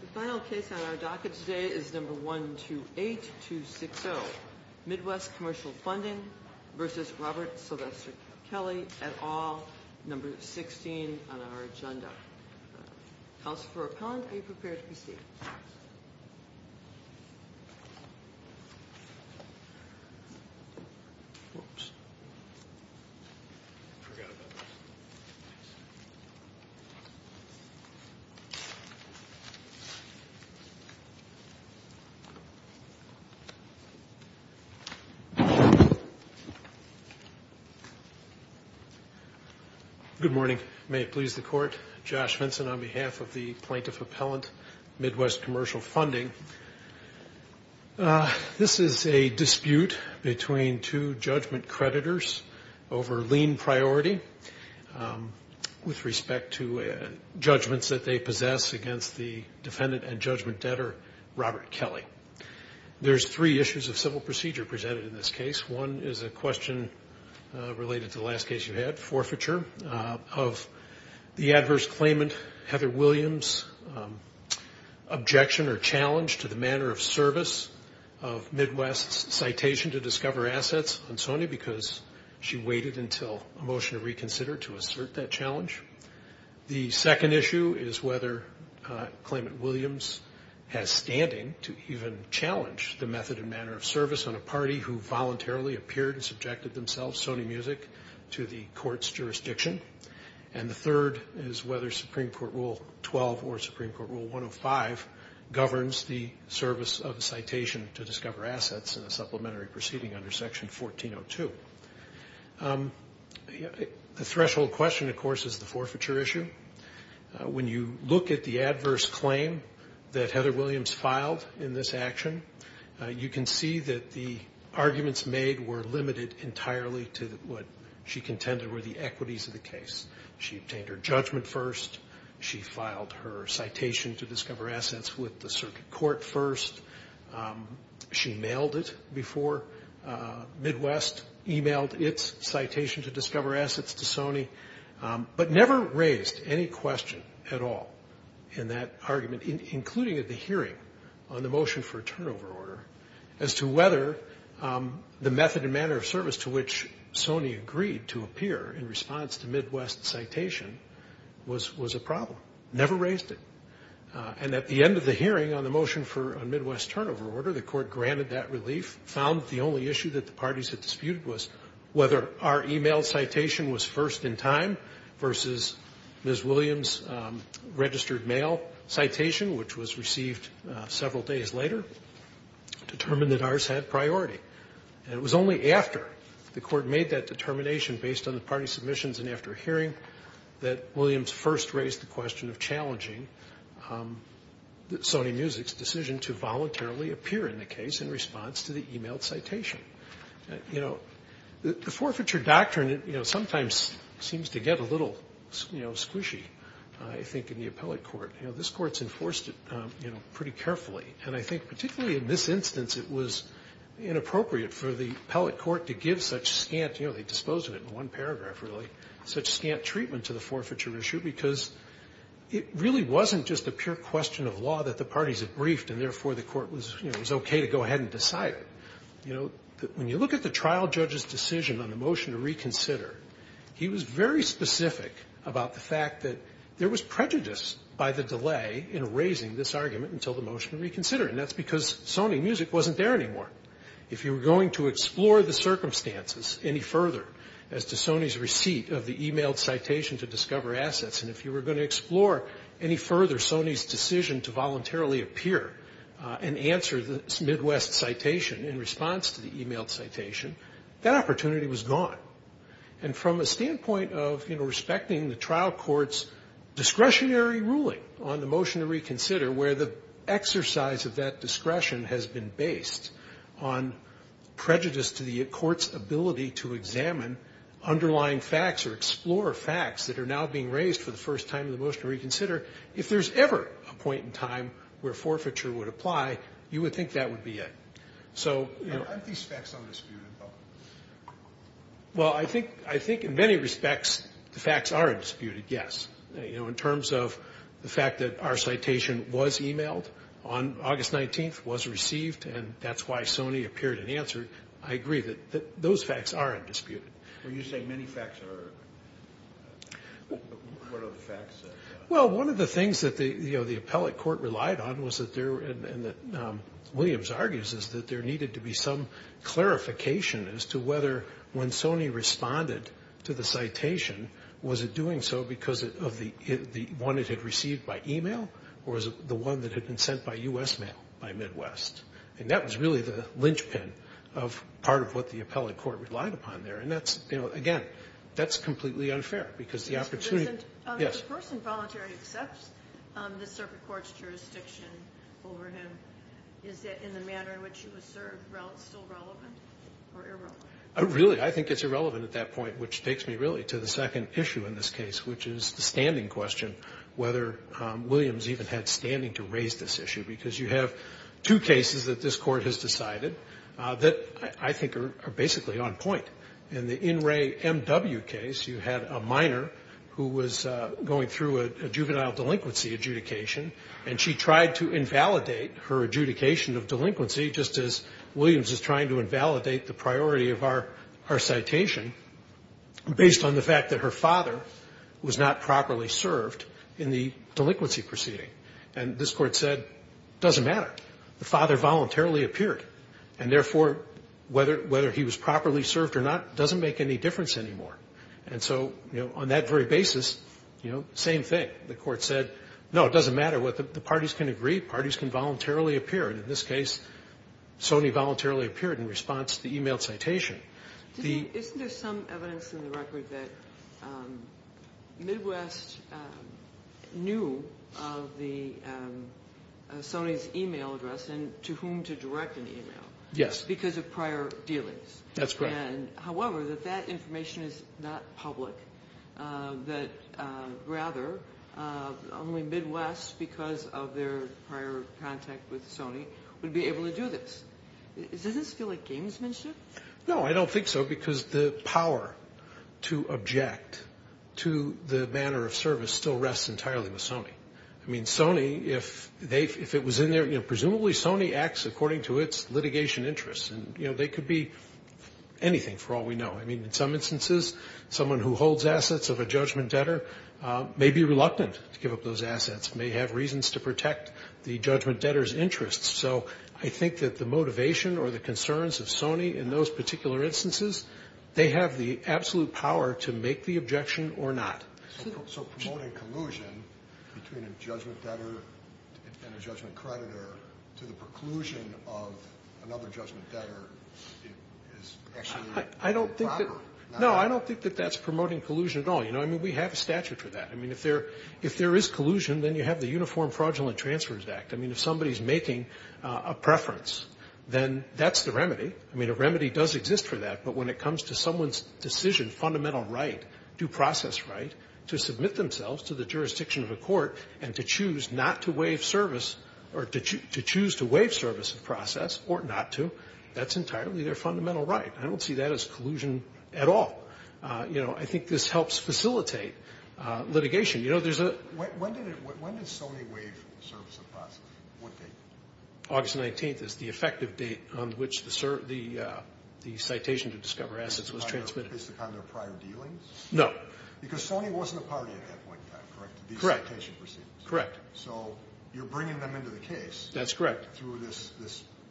The final case on our docket today is number 128-260, Midwest Commercial Funding v. Robert Sylvester Kelly, et al., number 16 on our agenda. Counsel for Appellant, are you prepared to proceed? Good morning. May it please the Court, Josh Vinson on behalf of the Plaintiff Appellant, Midwest Commercial Funding. This is a dispute between two judgment creditors over lien priority with respect to judgments that they possess against the defendant and judgment debtor, Robert Kelly. There's three issues of civil procedure presented in this case. One is a question related to the last case you had, forfeiture, of the adverse claimant, Heather Williams, objection or challenge to the manner of service of Midwest's citation to discover assets on Sony because she waited until a motion to reconsider to assert that challenge. The second issue is whether claimant Williams has standing to even challenge the method and manner of service on a party who voluntarily appeared and subjected themselves, Sony Music, to the court's jurisdiction. And the third is whether Supreme Court Rule 12 or Supreme Court Rule 105 governs the service of a citation to discover assets in a supplementary proceeding under Section 1402. The threshold question, of course, is the forfeiture issue. When you look at the adverse claim that Heather Williams filed in this action, you can see that the arguments made were limited entirely to what she contended were the equities of the case. She obtained her judgment first. She filed her citation to discover assets with the circuit court first. She mailed it before Midwest emailed its citation to discover assets to Sony, but never raised any question at all in that argument, including at the hearing on the motion for a turnover order, as to whether the method and manner of service to which Sony agreed to appear in response to Midwest's citation was a problem. Never raised it. And at the end of the hearing on the motion for a Midwest turnover order, the court granted that relief, found the only issue that the parties had disputed was whether our email citation was first in time versus Ms. Williams' registered mail citation, which was received several days later, determined that ours had priority. And it was only after the court made that determination based on the party submissions and after hearing that Williams first raised the question of challenging Sony Music's decision to voluntarily appear in the case in response to the emailed citation. You know, the forfeiture doctrine sometimes seems to get a little, you know, squishy, I think, in the appellate court. You know, this court's enforced it, you know, pretty carefully. And I think particularly in this instance, it was inappropriate for the appellate court to give such scant, you know, they disposed of it in one paragraph, really, such scant treatment to the forfeiture issue, because it really wasn't just a pure question of law that the parties had briefed and therefore the court was, you know, was okay to go ahead and decide. You know, when you look at the trial judge's decision on the motion to reconsider, he was very specific about the fact that there was prejudice by the delay in raising this argument until the motion to reconsider. And that's because Sony Music wasn't there anymore. If you were going to explore the circumstances any further as to Sony's receipt of the emailed citation to discover assets, and if you were going to explore any further Sony's decision to voluntarily appear and answer this Midwest citation in response to the emailed citation, that opportunity was gone. And from a standpoint of, you know, respecting the trial court's discretionary ruling on the motion to reconsider, where the exercise of that discretion has been based on prejudice to the court's ability to examine underlying facts or explore facts that are now being raised for the first time in the motion to reconsider, if there's ever a point in time where forfeiture would apply, you would think that would be it. Aren't these facts undisputed, though? Well, I think in many respects the facts are undisputed, yes. You know, in terms of the fact that our citation was emailed on August 19th, was received, and that's why Sony appeared and answered, I agree that those facts are undisputed. When you say many facts are, what are the facts? Well, one of the things that, you know, the appellate court relied on was that there, and that Williams argues, is that there needed to be some clarification as to whether when Sony responded to the citation, was it doing so because of the one it had received by email, or was it the one that had been sent by U.S. mail by Midwest? And that was really the linchpin of part of what the appellate court relied upon there, and that's, you know, again, that's completely unfair because the opportunity… And if the person voluntarily accepts the circuit court's jurisdiction over him, is it in the manner in which he was served still relevant or irrelevant? Really, I think it's irrelevant at that point, which takes me really to the second issue in this case, which is the standing question, whether Williams even had standing to raise this issue, because you have two cases that this court has decided that I think are basically on point. In the In Re M.W. case, you had a minor who was going through a juvenile delinquency adjudication, and she tried to invalidate her adjudication of delinquency, just as Williams is trying to invalidate the priority of our citation, based on the fact that her father was not properly served in the delinquency proceeding. And this court said, doesn't matter, the father voluntarily appeared, and therefore, whether he was properly served or not doesn't make any difference anymore. And so, you know, on that very basis, you know, same thing. The court said, no, it doesn't matter, the parties can agree, parties can voluntarily appear, and in this case, Sony voluntarily appeared in response to the emailed citation. Isn't there some evidence in the record that Midwest knew of Sony's email address and to whom to direct an email? Yes. Because of prior dealings. That's correct. However, that that information is not public, that rather only Midwest, because of their prior contact with Sony, would be able to do this. Doesn't this feel like gamesmanship? No, I don't think so, because the power to object to the manner of service still rests entirely with Sony. I mean, Sony, if it was in there, you know, presumably Sony acts according to its litigation interests. And, you know, they could be anything, for all we know. I mean, in some instances, someone who holds assets of a judgment debtor may be reluctant to give up those assets, may have reasons to protect the judgment debtor's interests. So I think that the motivation or the concerns of Sony in those particular instances, they have the absolute power to make the objection or not. So promoting collusion between a judgment debtor and a judgment creditor to the preclusion of another judgment debtor is actually improper. No, I don't think that that's promoting collusion at all. You know, I mean, we have a statute for that. I mean, if there is collusion, then you have the Uniform Fraudulent Transfers Act. I mean, if somebody is making a preference, then that's the remedy. I mean, a remedy does exist for that. But when it comes to someone's decision, fundamental right, due process right, to submit themselves to the jurisdiction of a court and to choose not to waive service or to choose to waive service of process or not to, that's entirely their fundamental right. I don't see that as collusion at all. You know, I think this helps facilitate litigation. When did Sony waive service of process? What date? August 19th is the effective date on which the citation to discover assets was transmitted. Based upon their prior dealings? No. Because Sony wasn't a party at that point in time, correct? Correct. These citation proceedings. Correct. So you're bringing them into the case. That's correct. Through this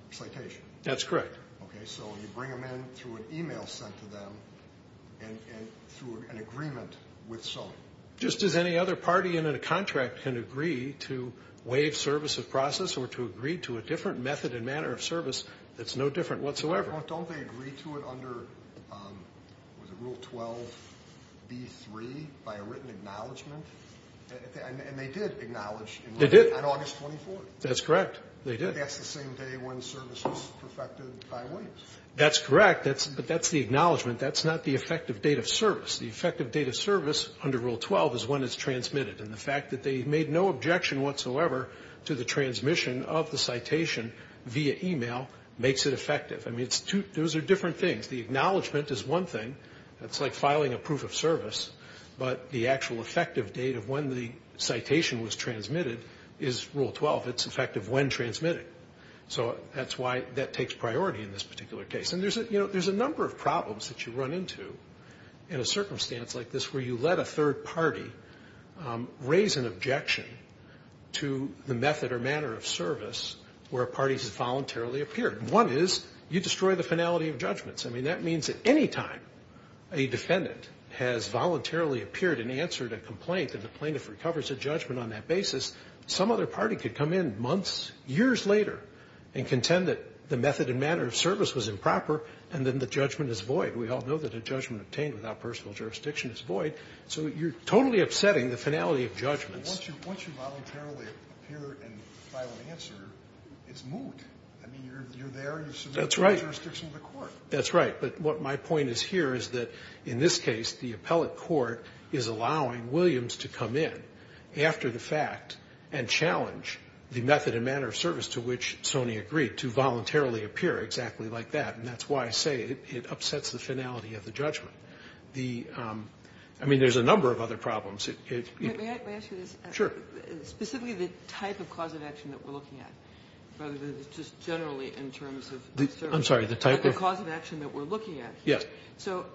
citation. That's correct. Okay, so you bring them in through an e-mail sent to them and through an agreement with Sony. Just as any other party in a contract can agree to waive service of process or to agree to a different method and manner of service, that's no different whatsoever. Don't they agree to it under, was it Rule 12b-3, by a written acknowledgment? And they did acknowledge. They did. On August 24th. That's correct. They did. I guess the same day when service was perfected by waives. That's correct. But that's the acknowledgment. That's not the effective date of service. The effective date of service under Rule 12 is when it's transmitted. And the fact that they made no objection whatsoever to the transmission of the citation via e-mail makes it effective. I mean, those are different things. The acknowledgment is one thing. That's like filing a proof of service. But the actual effective date of when the citation was transmitted is Rule 12. It's effective when transmitted. So that's why that takes priority in this particular case. And there's a number of problems that you run into in a circumstance like this where you let a third party raise an objection to the method or manner of service where a party has voluntarily appeared. One is you destroy the finality of judgments. I mean, that means that any time a defendant has voluntarily appeared and answered a complaint and the plaintiff recovers a judgment on that basis, some other party could come in months, years later, and contend that the method and manner of service was improper, and then the judgment is void. We all know that a judgment obtained without personal jurisdiction is void. So you're totally upsetting the finality of judgments. Once you voluntarily appear and file an answer, it's moot. I mean, you're there and you submit to the jurisdiction of the court. That's right. But what my point is here is that in this case the appellate court is allowing Williams to come in after the fact and challenge the method and manner of service to which Sony agreed to voluntarily appear exactly like that. And that's why I say it upsets the finality of the judgment. I mean, there's a number of other problems. May I ask you this? Sure. Specifically the type of cause of action that we're looking at, rather than just generally in terms of service. I'm sorry, the type of? The cause of action that we're looking at. Yes. So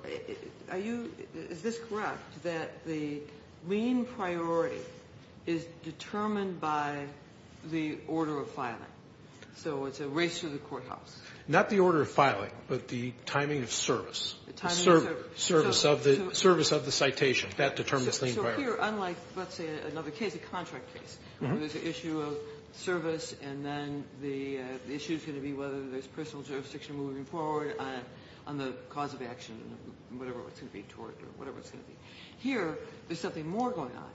are you ñ is this correct that the lien priority is determined by the order of filing? So it's a race to the courthouse. Not the order of filing, but the timing of service. The timing of service. Service of the citation. That determines lien priority. So here, unlike, let's say, another case, a contract case, where there's an issue of service and then the issue's going to be whether there's personal jurisdiction moving forward on the cause of action, whatever it's going to be, tort, or whatever it's going to be. Here, there's something more going on.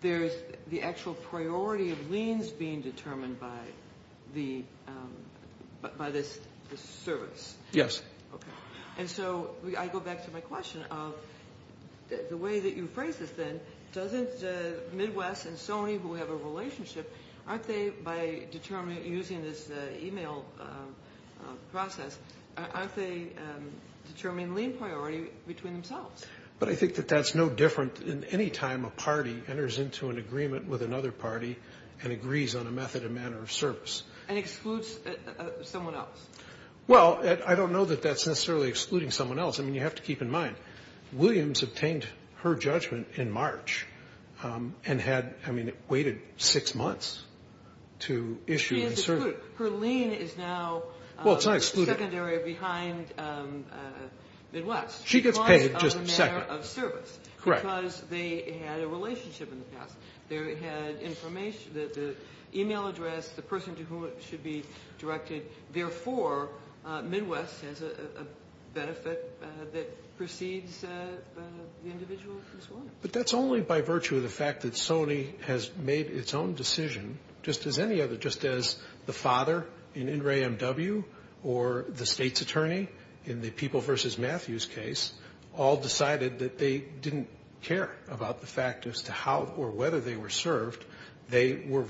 There's the actual priority of liens being determined by this service. Yes. Okay. And so I go back to my question of the way that you phrase this, then, doesn't Midwest and Sony, who have a relationship, aren't they, by using this e-mail process, aren't they determining lien priority between themselves? But I think that that's no different in any time a party enters into an agreement with another party and agrees on a method and manner of service. And excludes someone else. Well, I don't know that that's necessarily excluding someone else. I mean, you have to keep in mind, Williams obtained her judgment in March and had, I mean, waited six months to issue the service. She is excluded. Her lien is now secondary behind Midwest. She gets paid just second. Because of the manner of service. Correct. Because they had a relationship in the past. They had information, the e-mail address, the person to whom it should be directed. Therefore, Midwest has a benefit that precedes the individual. But that's only by virtue of the fact that Sony has made its own decision, just as any other, just as the father in In re M.W., or the state's attorney in the People v. Matthews case, all decided that they didn't care about the fact as to how or whether they were served. They were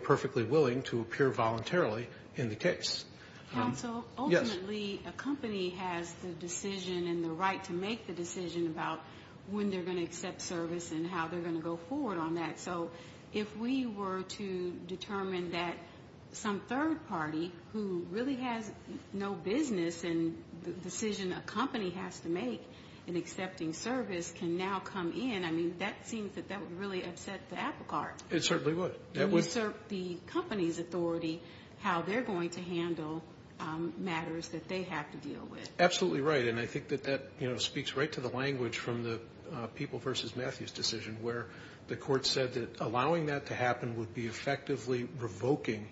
perfectly willing to appear voluntarily in the case. Counsel? Yes. Ultimately, a company has the decision and the right to make the decision about when they're going to accept service and how they're going to go forward on that. So if we were to determine that some third party, who really has no business in the decision a company has to make in accepting service, can now come in, I mean, that seems that that would really upset the apple cart. It certainly would. It would assert the company's authority how they're going to handle matters that they have to deal with. Absolutely right. And I think that that speaks right to the language from the People v. Matthews decision, where the court said that allowing that to happen would be effectively revoking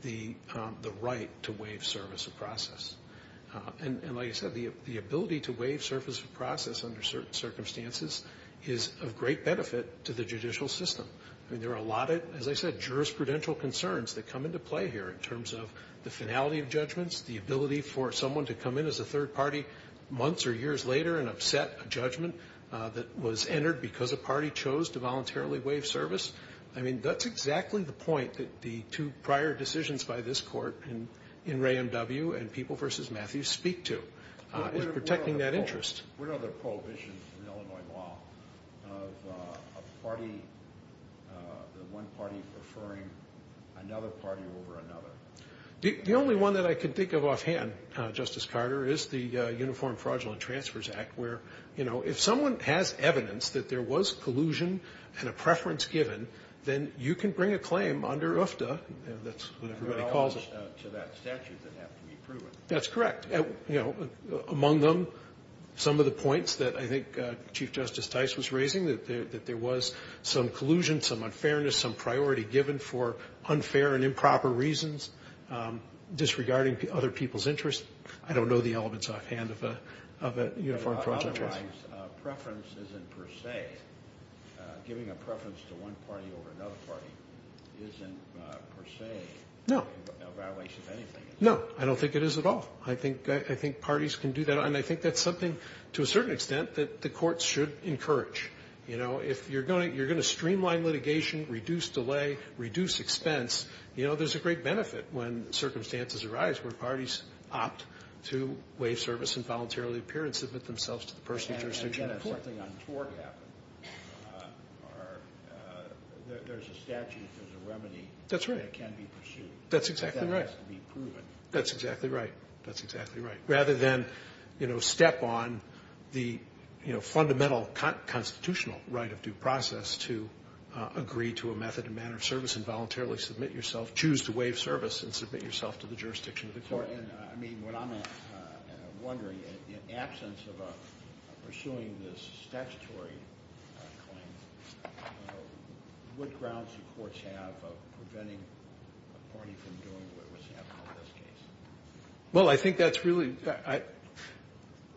the right to waive service of process. And like I said, the ability to waive service of process under certain circumstances is of great benefit to the judicial system. I mean, there are a lot of, as I said, jurisprudential concerns that come into play here in terms of the finality of judgments, the ability for someone to come in as a third party months or years later and upset a judgment that was entered because a party chose to voluntarily waive service. I mean, that's exactly the point that the two prior decisions by this court in Ray M.W. and People v. Matthews speak to, is protecting that interest. What are the prohibitions in Illinois law of a party, one party preferring another party over another? The only one that I can think of offhand, Justice Carter, is the Uniform Fraudulent Transfers Act, where, you know, if someone has evidence that there was collusion and a preference given, then you can bring a claim under UFTA. That's what everybody calls it. They're all to that statute that have to be proven. That's correct. You know, among them, some of the points that I think Chief Justice Tice was raising, that there was some collusion, some unfairness, some priority given for unfair and improper reasons, disregarding other people's interests. I don't know the elements offhand of a uniform fraudulent transfer. Otherwise, preference isn't per se. Giving a preference to one party over another party isn't per se a violation of anything. No. I don't think it is at all. I think parties can do that, and I think that's something, to a certain extent, that the courts should encourage. You know, if you're going to streamline litigation, reduce delay, reduce expense, you know, there's a great benefit when circumstances arise where parties opt to waive service and voluntarily appear and submit themselves to the person jurisdiction of the court. And again, if something untoward happened, there's a statute, there's a remedy. That's right. That can be pursued. That's exactly right. But that has to be proven. That's exactly right. That's exactly right. Rather than, you know, step on the, you know, fundamental constitutional right of due process to agree to a method and manner of service and voluntarily submit yourself, choose to waive service and submit yourself to the jurisdiction of the court. I mean, what I'm wondering, in absence of pursuing this statutory claim, what grounds do courts have of preventing a party from doing what was happening in this case? Well, I think that's really,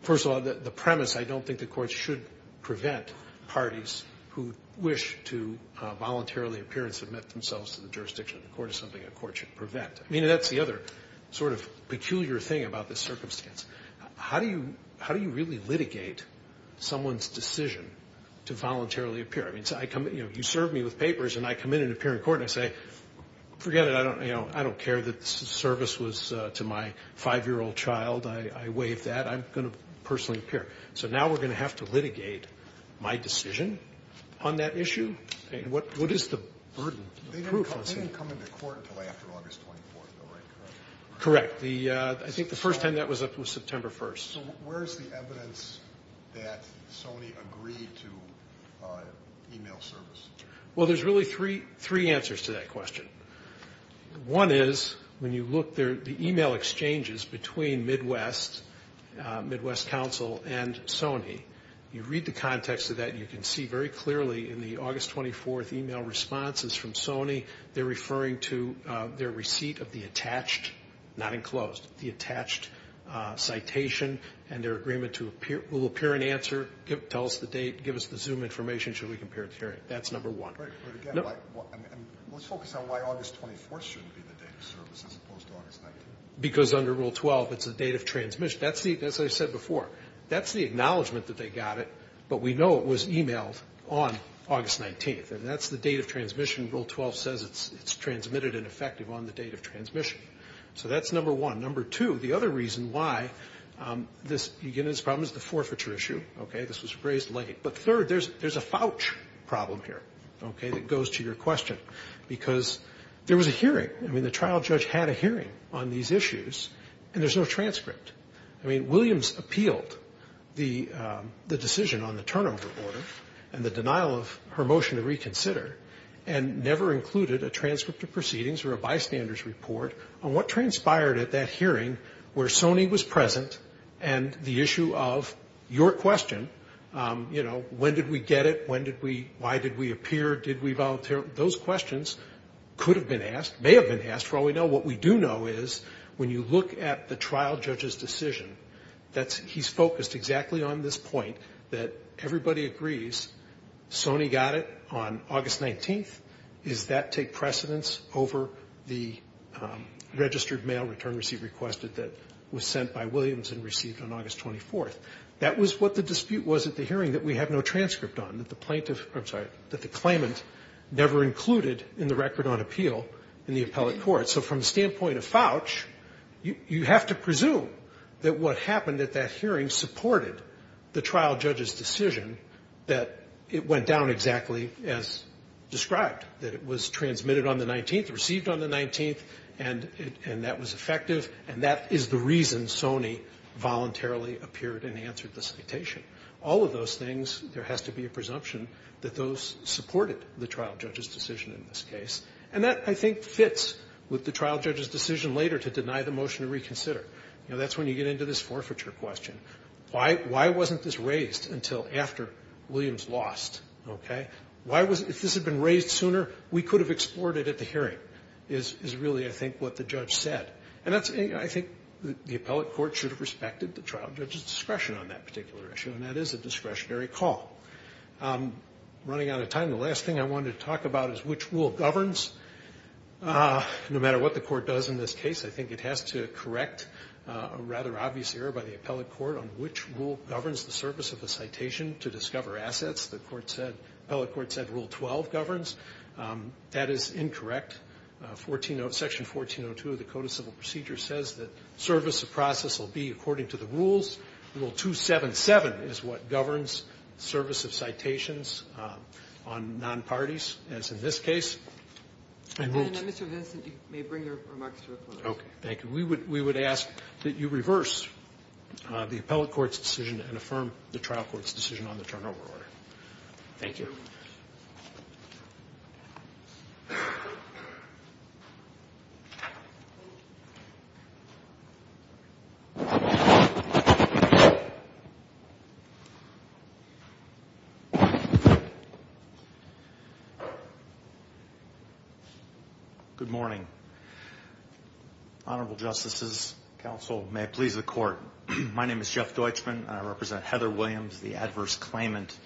first of all, the premise, I don't think that courts should prevent parties who wish to voluntarily appear and submit themselves to the jurisdiction of the court is something a court should prevent. I mean, that's the other sort of peculiar thing about this circumstance. How do you really litigate someone's decision to voluntarily appear? I mean, you serve me with papers, and I come in and appear in court, and I say, forget it, I don't, you know, I don't care that the service was to my 5-year-old child. I waived that. I'm going to personally appear. So now we're going to have to litigate my decision on that issue. What is the burden? They didn't come into court until after August 24th, though, right? Correct. I think the first time that was up was September 1st. So where is the evidence that Sony agreed to email service? Well, there's really three answers to that question. One is, when you look there, the email exchanges between Midwest, Midwest Council and Sony, you read the context of that, you can see very clearly in the August 24th email responses from Sony, they're referring to their receipt of the attached, not enclosed, the attached citation, and their agreement to appear, will appear in answer, tell us the date, give us the Zoom information, should we compare it to hearing. That's number one. But again, let's focus on why August 24th shouldn't be the date of service as opposed to August 19th. Because under Rule 12, it's the date of transmission. As I said before, that's the acknowledgment that they got it, but we know it was emailed on August 19th, and that's the date of transmission. Rule 12 says it's transmitted and effective on the date of transmission. So that's number one. Number two, the other reason why this problem is the forfeiture issue. This was raised late. But third, there's a fouch problem here, okay, that goes to your question. Because there was a hearing. I mean, the trial judge had a hearing on these issues, and there's no transcript. I mean, Williams appealed the decision on the turnover order and the denial of her motion to reconsider and never included a transcript of proceedings or a bystander's report on what transpired at that hearing where Sony was present and the issue of your question, you know, when did we get it, why did we appear, did we volunteer, those questions could have been asked, may have been asked, for all we know. What we do know is when you look at the trial judge's decision, he's focused exactly on this point, that everybody agrees Sony got it on August 19th. Is that take precedence over the registered mail return receipt requested that was sent by Williams and received on August 24th? That was what the dispute was at the hearing that we have no transcript on, that the plaintiff or, I'm sorry, that the claimant never included in the record on appeal in the appellate court. So from the standpoint of fouch, you have to presume that what happened at that hearing supported the trial judge's decision that it went down exactly as described, that it was transmitted on the 19th, received on the 19th, and that was effective, and that is the reason Sony voluntarily appeared and answered the citation. All of those things, there has to be a presumption that those supported the trial judge's decision in this case. And that, I think, fits with the trial judge's decision later to deny the motion to reconsider. You know, that's when you get into this forfeiture question. Why wasn't this raised until after Williams lost? Okay? If this had been raised sooner, we could have explored it at the hearing, is really, I think, what the judge said. And I think the appellate court should have respected the trial judge's discretion on that particular issue, and that is a discretionary call. Running out of time, the last thing I wanted to talk about is which rule governs. No matter what the court does in this case, I think it has to correct a rather obvious error by the appellate court on which rule governs the service of a citation to discover assets. The appellate court said Rule 12 governs. That is incorrect. Section 1402 of the Code of Civil Procedures says that service of process will be according to the rules. Rule 277 is what governs service of citations on nonparties, as in this case. And Mr. Vincent, you may bring your remarks to a close. Okay. Thank you. We would ask that you reverse the appellate court's decision and affirm the trial court's decision on the turnover order. Thank you. Good morning. Honorable Justices, Counsel, may it please the Court, my name is Jeff Deutschman, and I represent Heather Williams, the adverse claimant,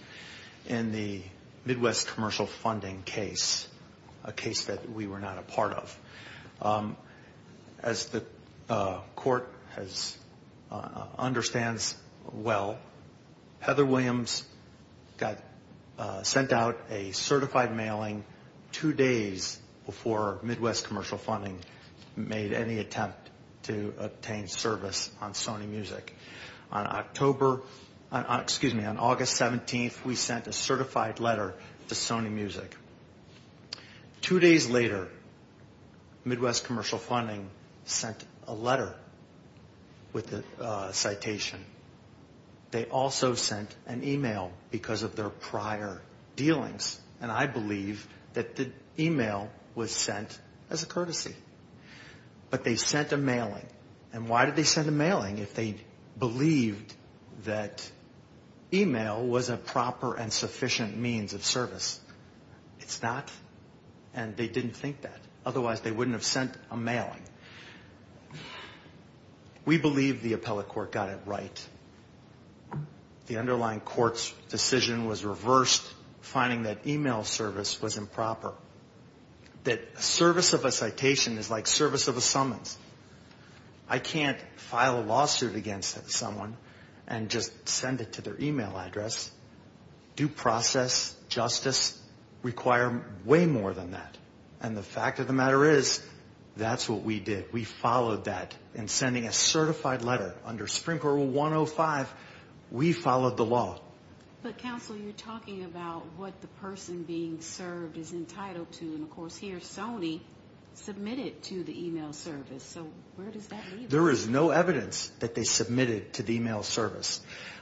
in the Midwest Commercial Funding case, a case that we were not a part of. As the Court understands well, Heather Williams got sent out a certified mailing two days before Midwest Commercial Funding made any attempt to obtain service on Sony Music. On October, excuse me, on August 17th, we sent a certified letter to Sony Music. Two days later, Midwest Commercial Funding sent a letter with a citation. They also sent an email because of their prior dealings. And I believe that the email was sent as a courtesy. But they sent a mailing. And why did they send a mailing if they believed that email was a proper and sufficient means of service? It's not, and they didn't think that. Otherwise, they wouldn't have sent a mailing. We believe the appellate court got it right. The underlying court's decision was reversed, finding that email service was improper, that service of a citation is like service of a summons. I can't file a lawsuit against someone and just send it to their email address. Due process, justice require way more than that. And the fact of the matter is that's what we did. We followed that in sending a certified letter. Under Supreme Court Rule 105, we followed the law. But, counsel, you're talking about what the person being served is entitled to. And, of course, here Sony submitted to the email service. So where does that leave us? There is no evidence that they submitted to the email service.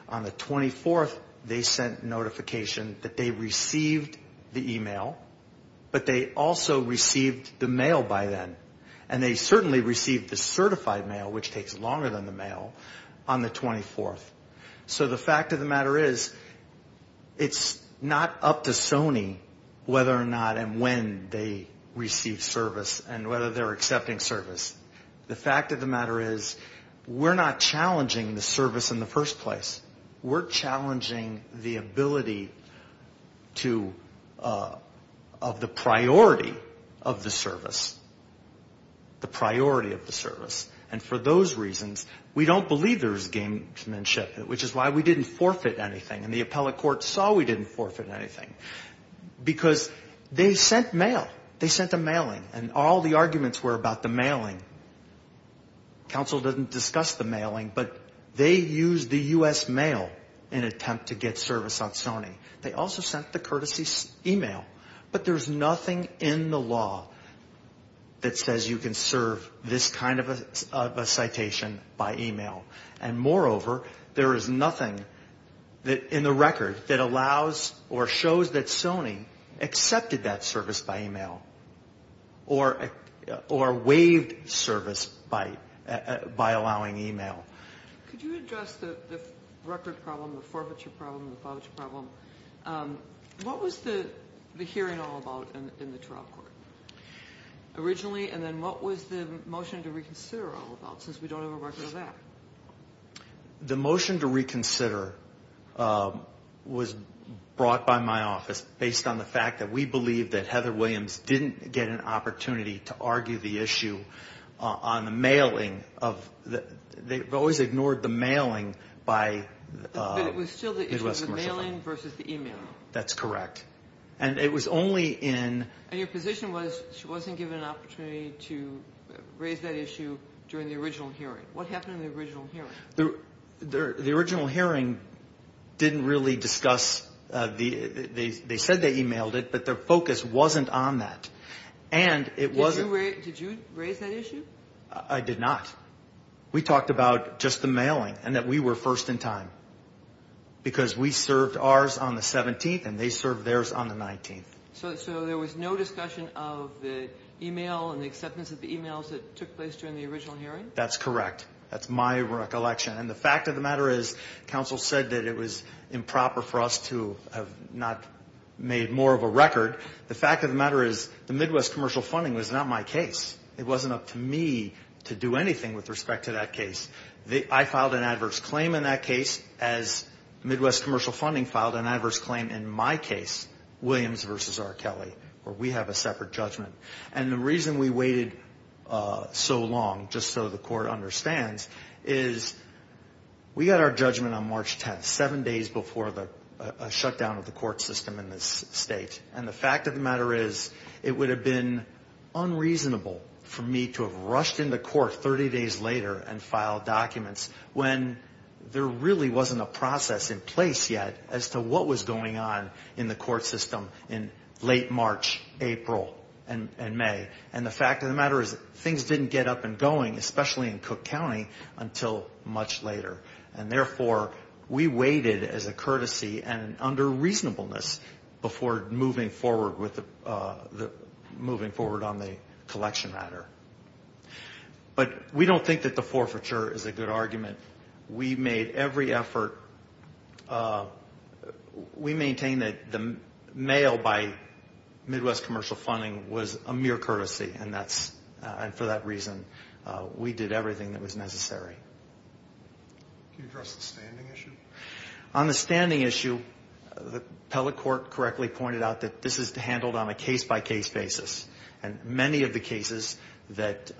On the 24th, they sent notification that they received the email, but they also received the mail by then. And they certainly received the certified mail, which takes longer than the mail, on the 24th. So the fact of the matter is it's not up to Sony whether or not and when they receive service and whether they're accepting service. The fact of the matter is we're not challenging the service in the first place. We're challenging the ability to of the priority of the service, the priority of the service. And for those reasons, we don't believe there's gamesmanship, which is why we didn't forfeit anything. And the appellate court saw we didn't forfeit anything because they sent mail. They sent a mailing, and all the arguments were about the mailing. Counsel didn't discuss the mailing, but they used the U.S. mail in attempt to get service on Sony. They also sent the courtesy email. But there's nothing in the law that says you can serve this kind of a citation by email. And moreover, there is nothing in the record that allows or shows that Sony accepted that service by email or waived service by allowing email. Could you address the record problem, the forfeiture problem, the voucher problem? What was the hearing all about in the trial court originally? And then what was the motion to reconsider all about, since we don't have a record of that? The motion to reconsider was brought by my office based on the fact that we believe that Heather Williams didn't get an opportunity to argue the issue on the mailing. They've always ignored the mailing by the U.S. commercial firm. But it was still the mailing versus the email. That's correct. And it was only in – And your position was she wasn't given an opportunity to raise that issue during the original hearing. What happened in the original hearing? The original hearing didn't really discuss – they said they emailed it, but their focus wasn't on that. And it wasn't – Did you raise that issue? I did not. We talked about just the mailing and that we were first in time because we served ours on the 17th, and they served theirs on the 19th. So there was no discussion of the email and the acceptance of the emails that took place during the original hearing? That's correct. That's my recollection. And the fact of the matter is counsel said that it was improper for us to have not made more of a record. The fact of the matter is the Midwest commercial funding was not my case. It wasn't up to me to do anything with respect to that case. I filed an adverse claim in that case as Midwest commercial funding filed an adverse claim in my case, Williams v. R. Kelly, where we have a separate judgment. And the reason we waited so long, just so the court understands, is we got our judgment on March 10th, seven days before the shutdown of the court system in this state. And the fact of the matter is it would have been unreasonable for me to have rushed into court 30 days later and filed documents when there really wasn't a process in place yet as to what was going on in the court system in late March, April, and May. And the fact of the matter is things didn't get up and going, especially in Cook County, until much later. And therefore, we waited as a courtesy and under reasonableness before moving forward on the collection matter. But we don't think that the forfeiture is a good argument. We made every effort. We maintain that the mail by Midwest commercial funding was a mere courtesy, and for that reason we did everything that was necessary. Can you address the standing issue? On the standing issue, the appellate court correctly pointed out that this is handled on a case-by-case basis. And many of the cases that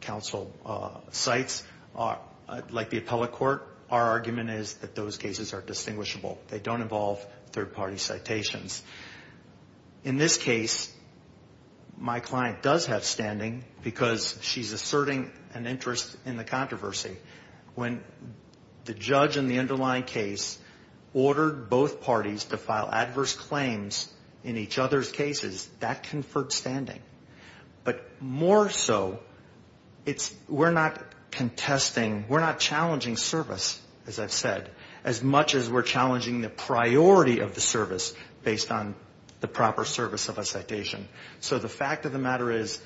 counsel cites, like the appellate court, our argument is that those cases are distinguishable. They don't involve third-party citations. In this case, my client does have standing because she's asserting an interest in the controversy. When the judge in the underlying case ordered both parties to file adverse claims in each other's cases, that conferred standing. But more so, we're not contesting, we're not challenging service, as I've said, as much as we're challenging the priority of the service based on the proper service of a citation. So the fact of the matter is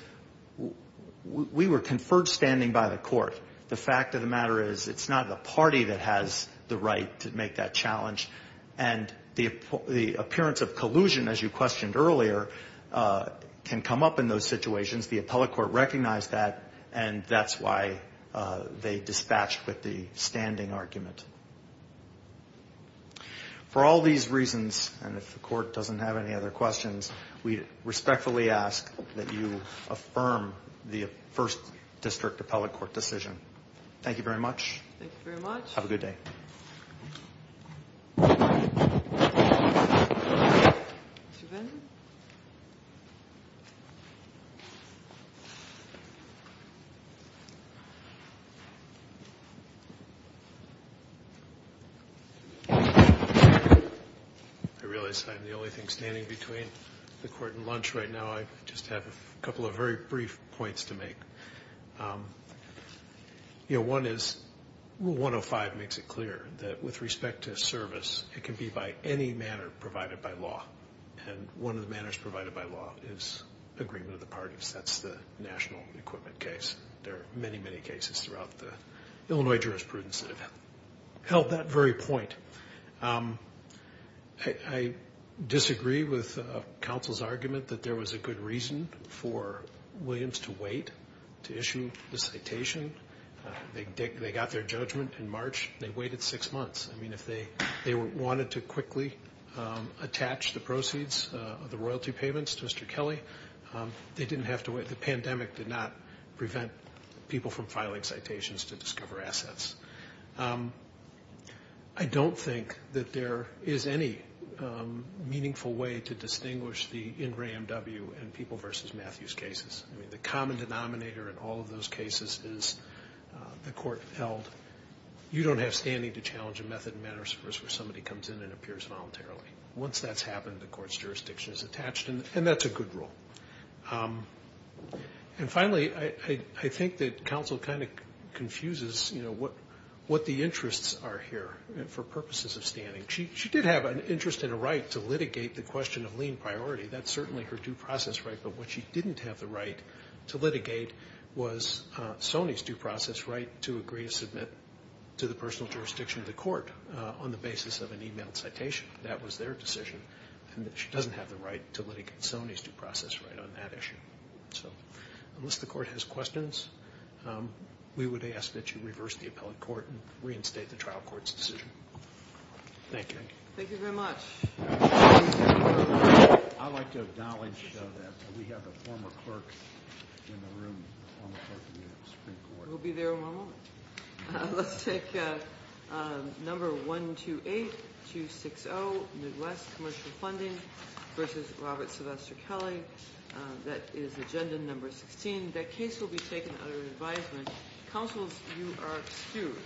we were conferred standing by the court. The fact of the matter is it's not the party that has the right to make that challenge. And the appearance of collusion, as you questioned earlier, can come up in those situations. The appellate court recognized that, and that's why they dispatched with the standing argument. For all these reasons, and if the court doesn't have any other questions, we respectfully ask that you affirm the first district appellate court decision. Thank you very much. Thank you very much. Have a good day. I realize I'm the only thing standing between the court and lunch right now. I just have a couple of very brief points to make. One is Rule 105 makes it clear that with respect to service, it can be by any manner provided by law. And one of the manners provided by law is agreement of the parties. That's the national equipment case. There are many, many cases throughout the Illinois jurisprudence that have held that very point. I disagree with counsel's argument that there was a good reason for Williams to wait to issue the citation. They got their judgment in March. They waited six months. I mean, if they wanted to quickly attach the proceeds of the royalty payments to Mr. Kelly, they didn't have to wait. The pandemic did not prevent people from filing citations to discover assets. I don't think that there is any meaningful way to distinguish the Ingram W. and people versus Matthews cases. I mean, the common denominator in all of those cases is the court held. You don't have standing to challenge a method and manners where somebody comes in and appears voluntarily. Once that's happened, the court's jurisdiction is attached. And that's a good rule. And finally, I think that counsel kind of confuses what the interests are here for purposes of standing. She did have an interest and a right to litigate the question of lien priority. That's certainly her due process right. But what she didn't have the right to litigate was Sony's due process right to agree to submit to the personal jurisdiction of the court on the basis of an e-mail citation. That was their decision. And she doesn't have the right to litigate Sony's due process right on that issue. So unless the court has questions, we would ask that you reverse the appellate court and reinstate the trial court's decision. Thank you. Thank you very much. I'd like to acknowledge that we have a former clerk in the room, former clerk of the Supreme Court. We'll be there in one moment. Let's take number 128-260, Midwest Commercial Funding versus Robert Sylvester Kelly. That is agenda number 16. That case will be taken under advisement. Counsels, you are excused.